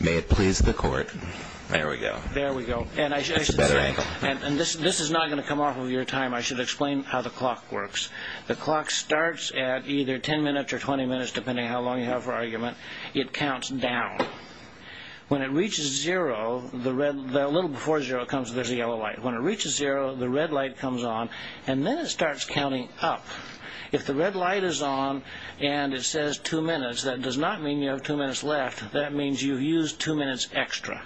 May it please the court. There we go. There we go. And I should say, and this is not going to come off of your time, I should explain how the clock works. The clock starts at either 10 minutes or 20 minutes, depending on how long you have for argument. It counts down. When it reaches zero, a little before zero, there's a yellow light. When it reaches zero, the red light comes on, and then it starts counting up. If the red light is on, and it says two minutes, that does not mean you have two minutes left. That means you used two minutes extra.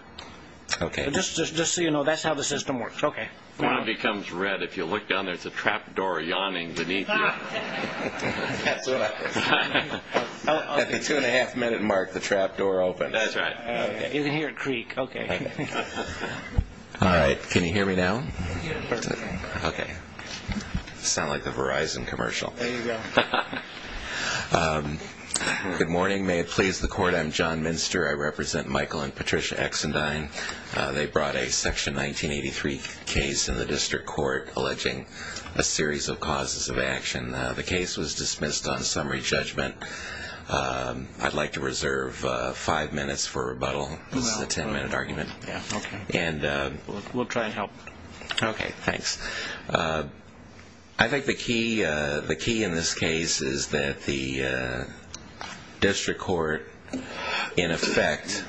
Okay. Just so you know, that's how the system works. Okay. When it becomes red, if you look down, there's a trapdoor yawning beneath you. At the two and a half minute mark, the trapdoor opens. That's right. You can hear it creak. Okay. All right. Can you hear me now? Okay. Sound like the Verizon commercial. There you go. Good morning. May it please the court. I'm John Minster. I represent Michael and Patricia Exendine. They brought a section 1983 case in the district court alleging a series of causes of action. The case was dismissed on summary judgment. I'd like to reserve five minutes for rebuttal. This is a ten minute argument. Okay. We'll try and help. Okay. Thanks. I think the key in this case is that the district court, in effect,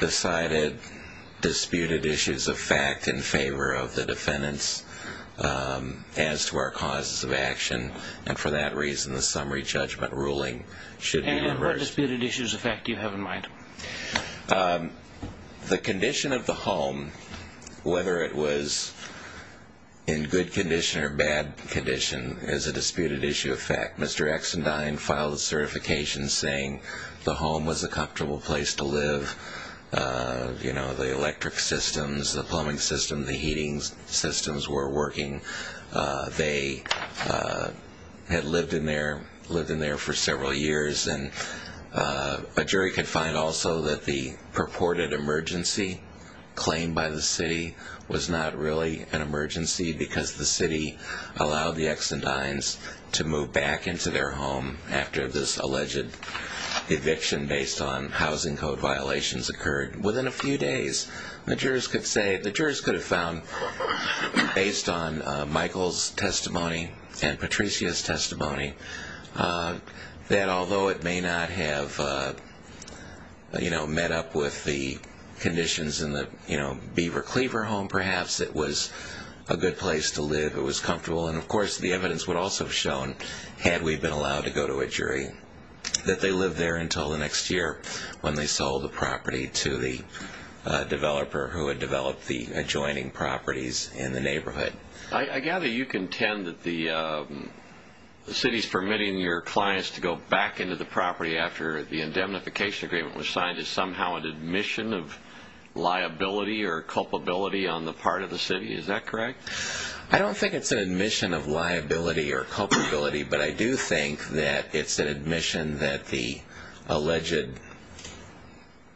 decided disputed issues of fact in favor of the defendants as to our causes of action. And for that reason, the summary judgment ruling should be reversed. And what disputed issues of fact do you have in mind? The condition of the home, whether it was in good condition or bad condition, is a disputed issue of fact. Mr. Exendine filed a certification saying the home was a comfortable place to live. The electric systems, the plumbing system, the heating systems were working. They had lived in there for several years. And a jury could find also that the purported emergency claimed by the city was not really an emergency because the city allowed the Exendines to move back into their home after this alleged eviction based on housing code violations occurred within a few days. The jurors could have found, based on Michael's testimony and Patricia's testimony, that although it may not have met up with the conditions in the Beaver Cleaver home, perhaps it was a good place to live. And of course, the evidence would also have shown, had we been allowed to go to a jury, that they lived there until the next year when they sold the property to the developer who had developed the adjoining properties in the neighborhood. I gather you contend that the city's permitting your clients to go back into the property after the indemnification agreement was signed is somehow an admission of liability or culpability on the part of the city. Is that correct? I don't think it's an admission of liability or culpability, but I do think that it's an admission that the alleged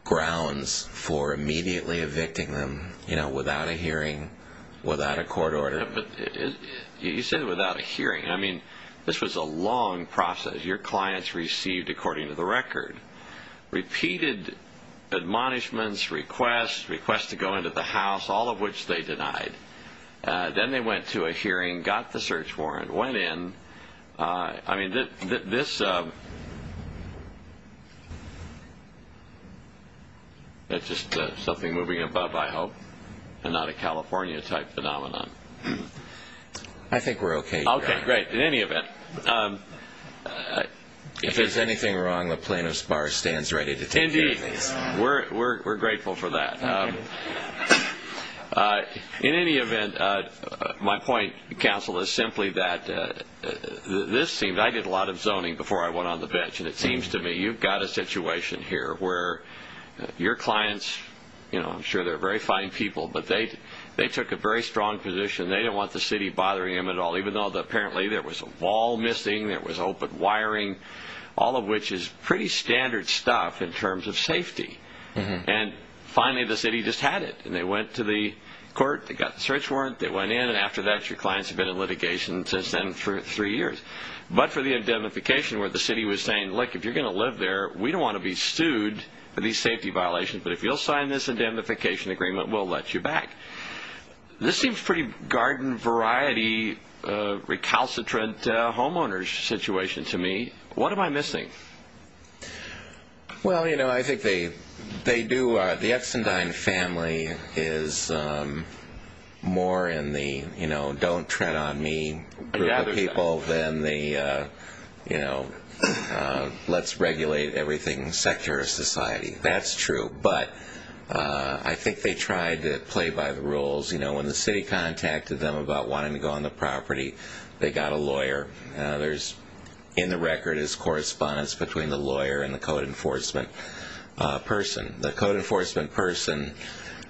grounds for immediately evicting them without a hearing, without a court order. You said without a hearing. I mean, this was a long process. Your clients received, according to the record, repeated admonishments, requests, requests to go into the house, all of which they denied. Then they went to a hearing, got the search warrant, went in. I mean, this is just something moving above, I hope, and not a California-type phenomenon. I think we're okay here. Okay, great. In any event... If there's anything wrong, the plaintiff's bar stands ready to take care of these. We're grateful for that. In any event, my point, counsel, is simply that this seems... I did a lot of zoning before I went on the bench, and it seems to me you've got a situation here where your clients, I'm sure they're very fine people, but they took a very strong position. They don't want the city bothering them at all, even though apparently there was a wall missing, there was open wiring, all of which is pretty standard stuff in terms of safety. Finally, the city just had it. They went to the court, they got the search warrant, they went in, and after that, your clients have been in litigation since then for three years. But for the indemnification where the city was saying, look, if you're going to live there, we don't want to be sued for these safety violations, but if you'll sign this indemnification agreement, we'll let you back. This seems a pretty garden-variety, recalcitrant homeowner's situation to me. What am I missing? Well, you know, I think they do... The Eckstein-Dine family is more in the don't tread on me group of people than the let's regulate everything sector of society. That's true. But I think they tried to play by the rules. When the city contacted them about wanting to go on the property, they got a lawyer. In the record is correspondence between the lawyer and the code enforcement person. The code enforcement person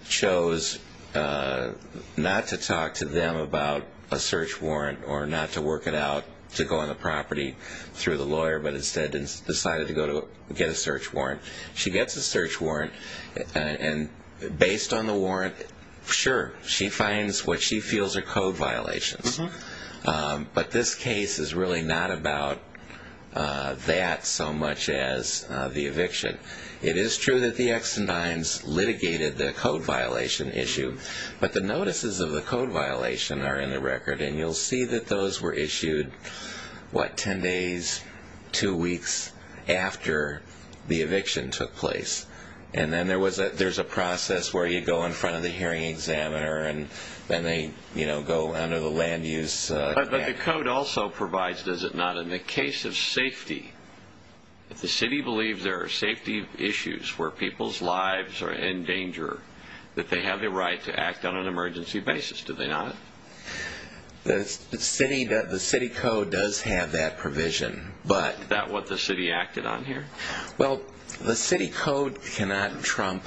chose not to talk to them about a search warrant or not to work it out to go on the property through the lawyer, but instead decided to get a search warrant. She gets a search warrant, and based on the warrant, sure, she finds what she feels are code violations. But this case is really not about that so much as the eviction. It is true that the Eckstein-Dines litigated the code violation issue, but the notices of the code violation are in the record, and you'll see that those were issued, what, ten days, two weeks after the eviction took place. And then there's a process where you go in front of the hearing examiner, and then they go under the land use... But the code also provides, does it not, in the case of safety, if the city believes there are safety issues where people's lives are in danger, that they have the right to act on an emergency basis, do they not? The city code does have that provision, but... Is that what the city acted on here? Well, the city code cannot trump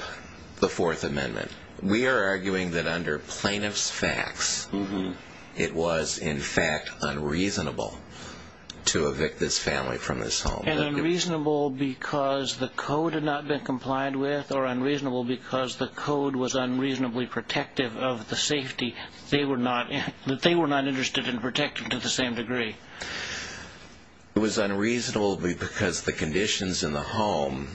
the Fourth Amendment. We are arguing that under plaintiff's facts, it was in fact unreasonable to evict this family from this home. And unreasonable because the code had not been complied with, or unreasonable because the code was unreasonably protective of the safety that they were not interested in protecting to the same degree? It was unreasonable because the conditions in the home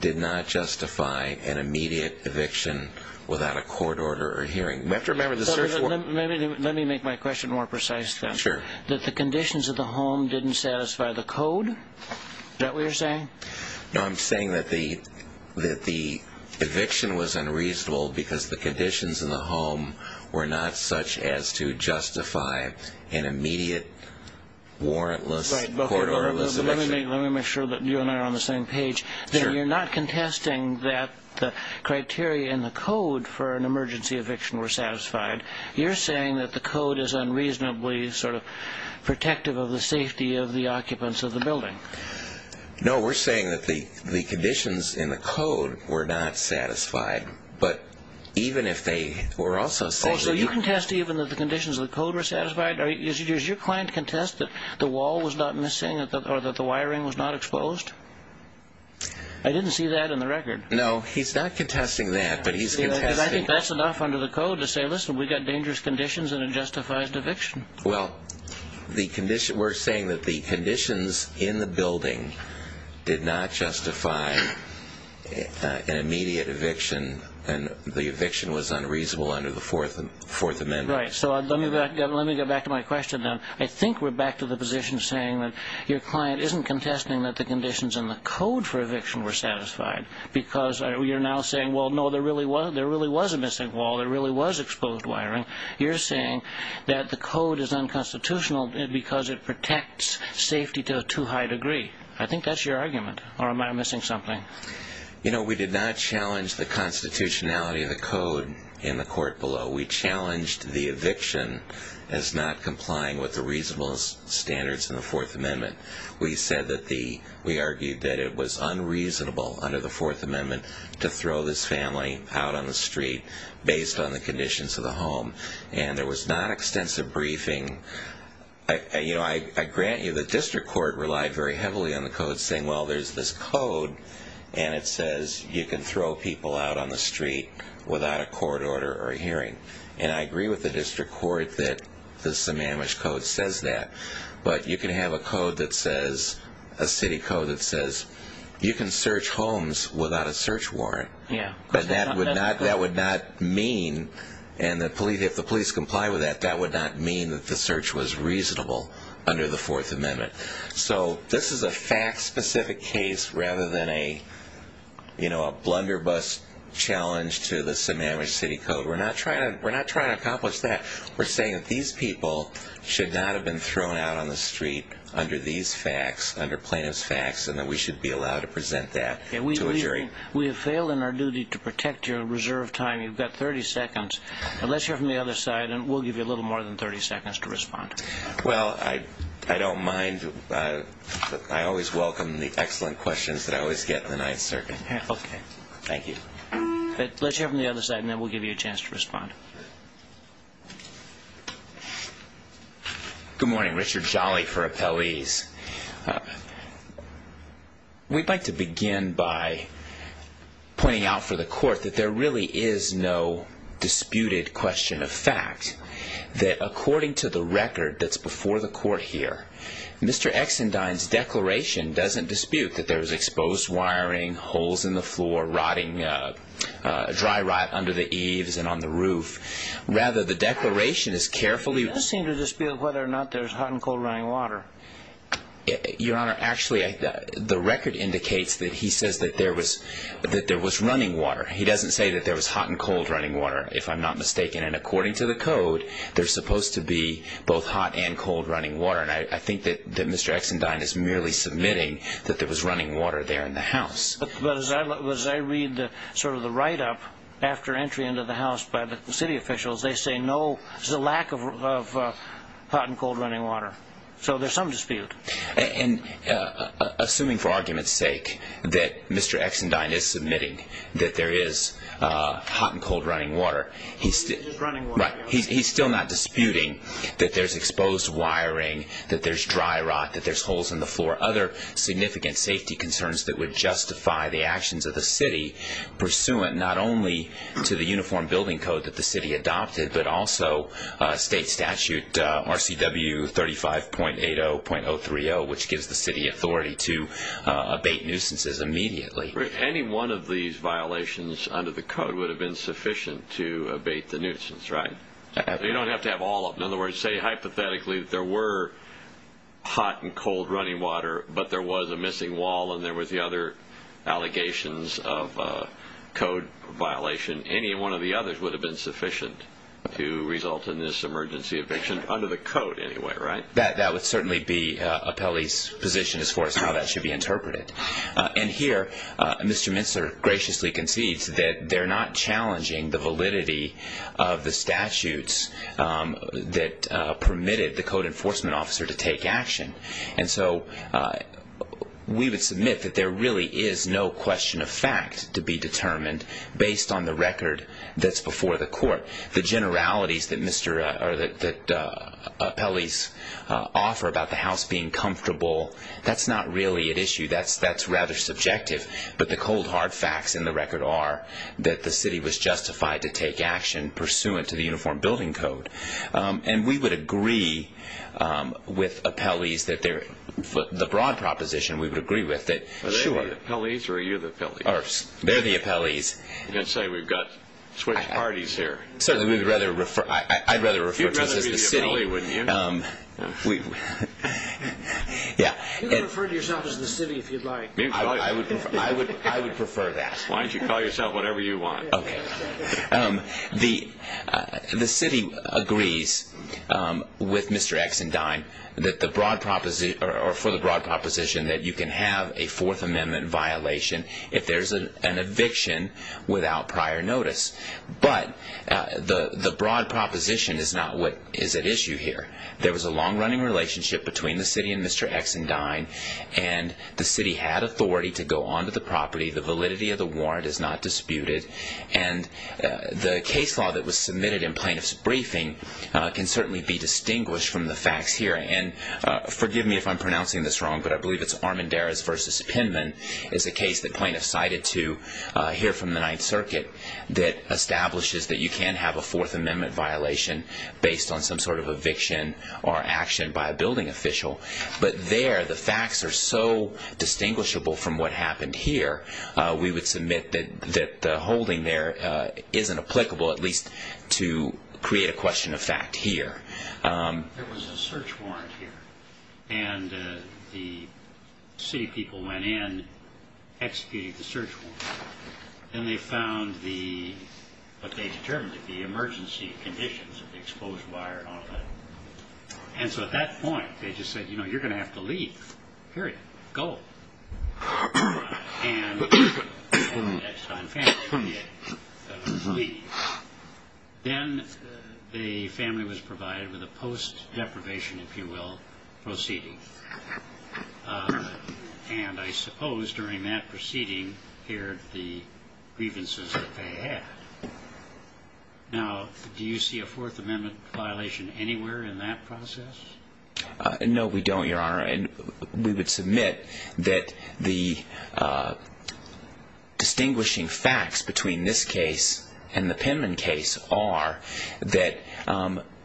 did not justify an immediate eviction without a court order or hearing. Let me make my question more precise, then. Sure. That the conditions of the home didn't satisfy the code? Is that what you're saying? No, I'm saying that the eviction was unreasonable because the conditions in the home were not such as to justify an immediate warrantless, court orderless eviction. Let me make sure that you and I are on the same page. You're not contesting that the criteria in the code for an emergency eviction were satisfied. You're saying that the code is unreasonably protective of the safety of the occupants of the building. No, we're saying that the conditions in the code were not satisfied, but even if they were also satisfied... Oh, so you contest even that the conditions of the code were satisfied? Does your client contest that the wall was not missing or that the wiring was not exposed? I didn't see that in the record. No, he's not contesting that, but he's contesting... Because I think that's enough under the code to say, listen, we've got dangerous conditions and it justifies eviction. Well, we're saying that the conditions in the building did not justify an immediate eviction and the eviction was unreasonable under the Fourth Amendment. Right, so let me get back to my question then. I think we're back to the position saying that your client isn't contesting that the conditions in the code for eviction were satisfied because you're now saying, well, no, there really was a missing wall, there really was exposed wiring. You're saying that the code is unconstitutional because it protects safety to a too high degree. I think that's your argument, or am I missing something? You know, we did not challenge the constitutionality of the code in the court below. We challenged the eviction as not complying with the reasonable standards in the Fourth Amendment. We argued that it was unreasonable under the Fourth Amendment to throw this family out on the street based on the conditions of the home. And there was not extensive briefing. You know, I grant you the district court relied very heavily on the code saying, well, there's this code and it says you can throw people out on the street without a court order or a hearing. And I agree with the district court that the Sammamish Code says that. But you can have a code that says, a city code that says you can search homes without a search warrant. But that would not mean, and if the police comply with that, that would not mean that the search was reasonable under the Fourth Amendment. So this is a fact-specific case rather than a blunderbuss challenge to the Sammamish City Code. We're not trying to accomplish that. We're saying that these people should not have been thrown out on the street under these facts, under plaintiff's facts, and that we should be allowed to present that to a jury. We have failed in our duty to protect your reserve time. You've got 30 seconds. Let's hear from the other side, and we'll give you a little more than 30 seconds to respond. Well, I don't mind. I always welcome the excellent questions that I always get in the Ninth Circuit. Okay. Thank you. Let's hear from the other side, and then we'll give you a chance to respond. Good morning. Richard Jolly for Appellees. We'd like to begin by pointing out for the Court that there really is no disputed question of fact, that according to the record that's before the Court here, Mr. Exendine's declaration doesn't dispute that there's exposed wiring, holes in the floor, dry rot under the eaves and on the roof. Rather, the declaration is carefully He does seem to dispute whether or not there's hot and cold running water. Your Honor, actually, the record indicates that he says that there was running water. He doesn't say that there was hot and cold running water, if I'm not mistaken. And according to the Code, there's supposed to be both hot and cold running water. And I think that Mr. Exendine is merely submitting that there was running water there in the house. But as I read sort of the write-up after entry into the house by the city officials, they say no, there's a lack of hot and cold running water. So there's some dispute. And assuming for argument's sake that Mr. Exendine is submitting that there is hot and cold running water, he's still not disputing that there's exposed wiring, that there's dry rot, that there's holes in the floor, other significant safety concerns that would justify the actions of the city, pursuant not only to the Uniform Building Code that the city adopted, but also state statute RCW 35.80.030, which gives the city authority to abate nuisances immediately. Any one of these violations under the Code would have been sufficient to abate the nuisance, right? You don't have to have all of them. In other words, say hypothetically there were hot and cold running water, but there was a missing wall and there were the other allegations of a Code violation. Any one of the others would have been sufficient to result in this emergency eviction, under the Code anyway, right? That would certainly be Apelli's position as far as how that should be interpreted. And here, Mr. Minster graciously concedes that they're not challenging the validity of the statutes that permitted the Code enforcement officer to take action. And so we would submit that there really is no question of fact to be determined based on the record that's before the court. The generalities that Apelli's offer about the house being comfortable, that's not really at issue. That's rather subjective. But the cold, hard facts in the record are that the city was justified to take action pursuant to the Uniform Building Code. And we would agree with Apelli's that the broad proposition we would agree with. Are they the Apelli's or are you the Apelli's? They're the Apelli's. I'm going to say we've got switched parties here. I'd rather refer to us as the city. You'd rather be the Apelli's, wouldn't you? You can refer to yourself as the city if you'd like. I would prefer that. Why don't you call yourself whatever you want. Okay. The city agrees with Mr. Exendyne that the broad proposition, or for the broad proposition, that you can have a Fourth Amendment violation if there's an eviction without prior notice. But the broad proposition is not what is at issue here. There was a long-running relationship between the city and Mr. Exendyne. And the city had authority to go onto the property. The validity of the warrant is not disputed. And the case law that was submitted in plaintiff's briefing can certainly be distinguished from the facts here. And forgive me if I'm pronouncing this wrong, but I believe it's Armendariz v. Penman is a case that plaintiffs cited to hear from the Ninth Circuit that establishes that you can have a Fourth Amendment violation based on some sort of eviction or action by a building official. But there, the facts are so distinguishable from what happened here, we would submit that the holding there isn't applicable, at least to create a question of fact here. There was a search warrant here. And the city people went in, executed the search warrant. And they found what they determined to be emergency conditions of the exposed wire and all that. And so at that point, they just said, you know, you're going to have to leave. Period. Go. And the Exendyne family had to leave. Then the family was provided with a post-deprivation, if you will, proceeding. And I suppose during that proceeding, they heard the grievances that they had. Now, do you see a Fourth Amendment violation anywhere in that process? We would submit that the distinguishing facts between this case and the Penman case are that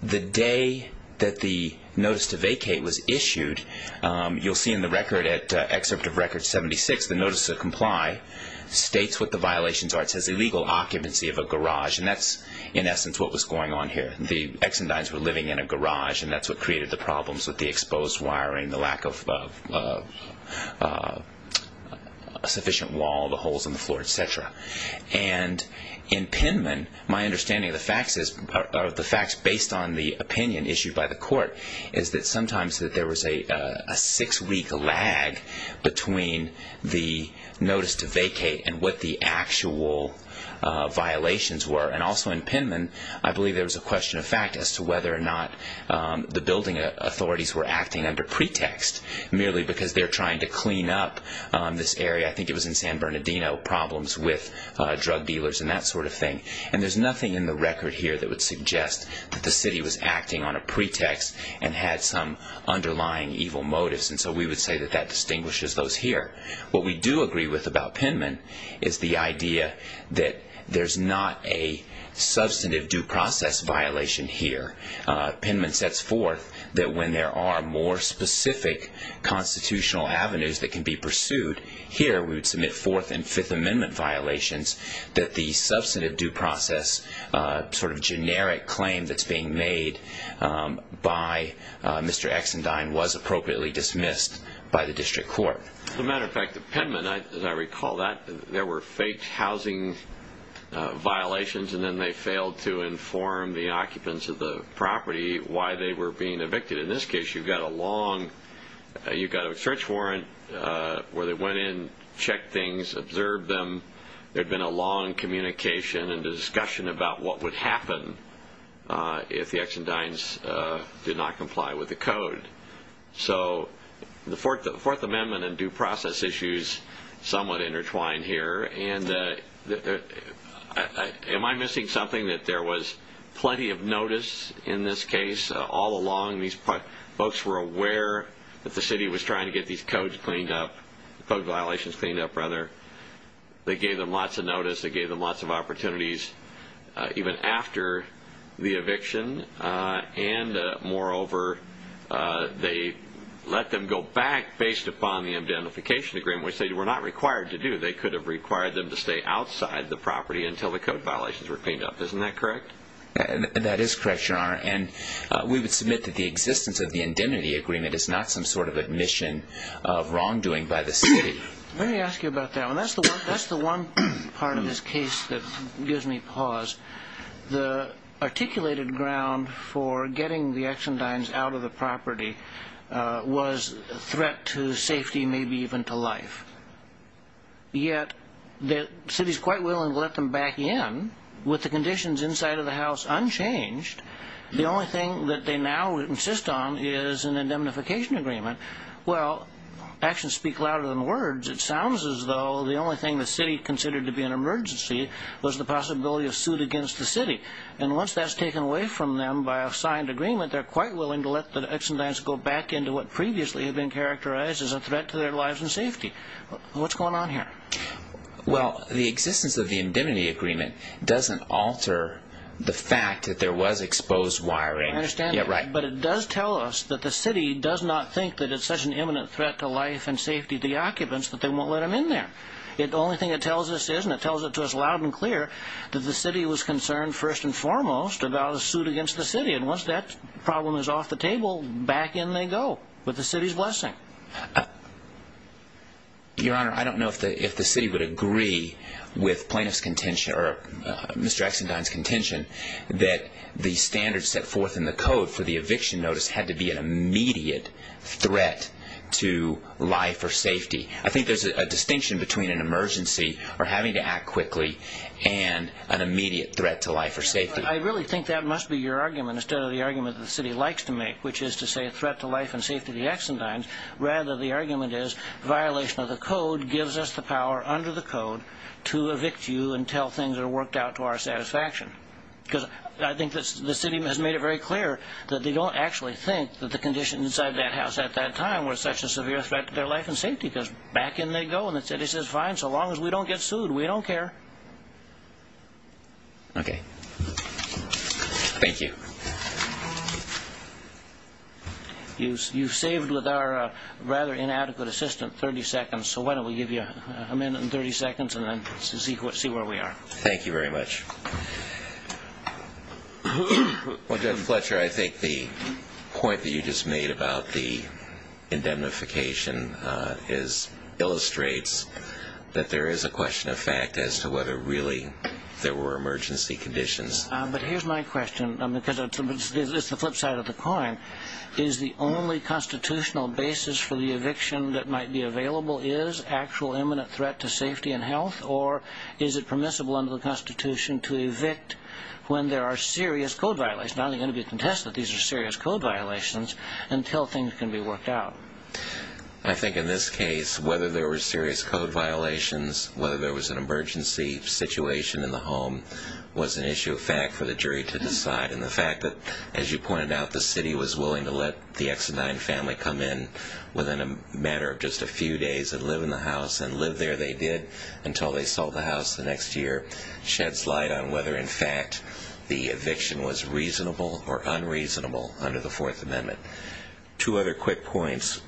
the day that the notice to vacate was issued, you'll see in the record at Excerpt of Record 76, the notice to comply states what the violations are. It says illegal occupancy of a garage. And that's, in essence, what was going on here. The Exendynes were living in a garage. And that's what created the problems with the exposed wiring, the lack of a sufficient wall, the holes in the floor, et cetera. And in Penman, my understanding of the facts based on the opinion issued by the court is that sometimes there was a six-week lag between the notice to vacate and what the actual violations were. And also in Penman, I believe there was a question of fact as to whether or not the building authorities were acting under pretext, merely because they're trying to clean up this area. I think it was in San Bernardino, problems with drug dealers and that sort of thing. And there's nothing in the record here that would suggest that the city was acting on a pretext and had some underlying evil motives. And so we would say that that distinguishes those here. What we do agree with about Penman is the idea that there's not a substantive due process violation here. Penman sets forth that when there are more specific constitutional avenues that can be pursued, here we would submit Fourth and Fifth Amendment violations, that the substantive due process sort of generic claim that's being made by Mr. Exendyne was appropriately dismissed by the district court. As a matter of fact, in Penman, as I recall, there were fake housing violations and then they failed to inform the occupants of the property why they were being evicted. In this case, you've got a long – you've got a search warrant where they went in, checked things, observed them. There had been a long communication and discussion about what would happen if the Exendynes did not comply with the code. So the Fourth Amendment and due process issues somewhat intertwine here. And am I missing something? That there was plenty of notice in this case all along. These folks were aware that the city was trying to get these codes cleaned up – code violations cleaned up, rather. They gave them lots of notice. They gave them lots of opportunities even after the eviction. And moreover, they let them go back based upon the indemnification agreement, which they were not required to do. They could have required them to stay outside the property until the code violations were cleaned up. Isn't that correct? That is correct, Your Honor. And we would submit that the existence of the indemnity agreement is not some sort of admission of wrongdoing by the city. Let me ask you about that. And that's the one part of this case that gives me pause. The articulated ground for getting the Exendynes out of the property was a threat to safety, maybe even to life. Yet the city is quite willing to let them back in with the conditions inside of the house unchanged. The only thing that they now insist on is an indemnification agreement. Well, actions speak louder than words. It sounds as though the only thing the city considered to be an emergency was the possibility of suit against the city. And once that's taken away from them by a signed agreement, they're quite willing to let the Exendynes go back into what previously had been characterized as a threat to their lives and safety. What's going on here? Well, the existence of the indemnity agreement doesn't alter the fact that there was exposed wiring. I understand that. But it does tell us that the city does not think that it's such an imminent threat to life and safety of the occupants that they won't let them in there. The only thing it tells us is, and it tells it to us loud and clear, that the city was concerned first and foremost about a suit against the city. And once that problem is off the table, back in they go with the city's blessing. Your Honor, I don't know if the city would agree with Mr. Exendynes' contention that the standards set forth in the code for the eviction notice had to be an immediate threat to life or safety. I think there's a distinction between an emergency or having to act quickly and an immediate threat to life or safety. I really think that must be your argument instead of the argument that the city likes to make, which is to say a threat to life and safety of the Exendynes. Rather, the argument is violation of the code gives us the power under the code to evict you until things are worked out to our satisfaction. Because I think the city has made it very clear that they don't actually think that the conditions inside that house at that time were such a severe threat to their life and safety because back in they go and the city says, fine, so long as we don't get sued, we don't care. Okay. Thank you. You've saved with our rather inadequate assistant 30 seconds, so why don't we give you a minute and 30 seconds and then see where we are. Thank you very much. Well, Judge Fletcher, I think the point that you just made about the indemnification illustrates that there is a question of fact as to whether really there were emergency conditions. But here's my question, because it's the flip side of the coin. Is the only constitutional basis for the eviction that might be available, is actual imminent threat to safety and health, or is it permissible under the Constitution to evict when there are serious code violations? Now they're going to be contested, these are serious code violations, until things can be worked out. I think in this case, whether there were serious code violations, whether there was an emergency situation in the home was an issue of fact for the jury to decide. And the fact that, as you pointed out, the city was willing to let the Exodyne family come in within a matter of just a few days and live in the house, and live there they did until they sold the house the next year, sheds light on whether in fact the eviction was reasonable or unreasonable under the Fourth Amendment. Two other quick points.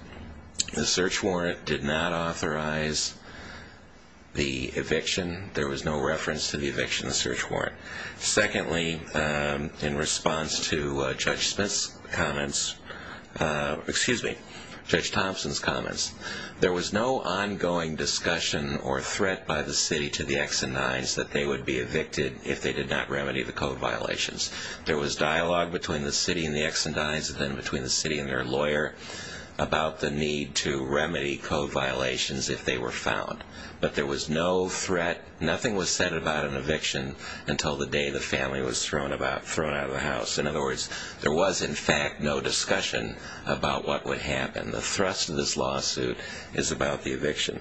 The search warrant did not authorize the eviction. There was no reference to the eviction in the search warrant. Secondly, in response to Judge Smith's comments, excuse me, Judge Thompson's comments, there was no ongoing discussion or threat by the city to the Exodynes that they would be evicted if they did not remedy the code violations. There was dialogue between the city and the Exodynes and then between the city and their lawyer about the need to remedy code violations if they were found. But there was no threat, nothing was said about an eviction until the day the family was thrown out of the house. In other words, there was in fact no discussion about what would happen. The thrust of this lawsuit is about the eviction.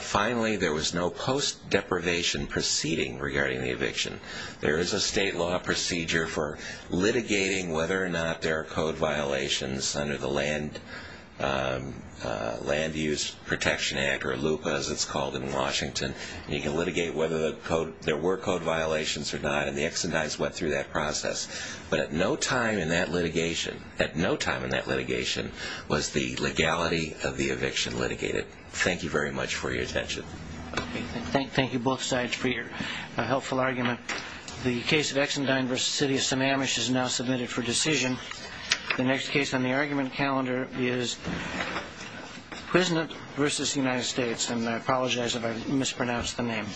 Finally, there was no post-deprivation proceeding regarding the eviction. There is a state law procedure for litigating whether or not there are code violations under the Land Use Protection Act, or LUPA as it's called in Washington. You can litigate whether there were code violations or not, and the Exodynes went through that process. But at no time in that litigation was the legality of the eviction litigated. Thank you very much for your attention. Thank you both sides for your helpful argument. The case of Exodyne v. City of Sammamish is now submitted for decision. The next case on the argument calendar is Quiznet v. United States, and I apologize if I mispronounced the name.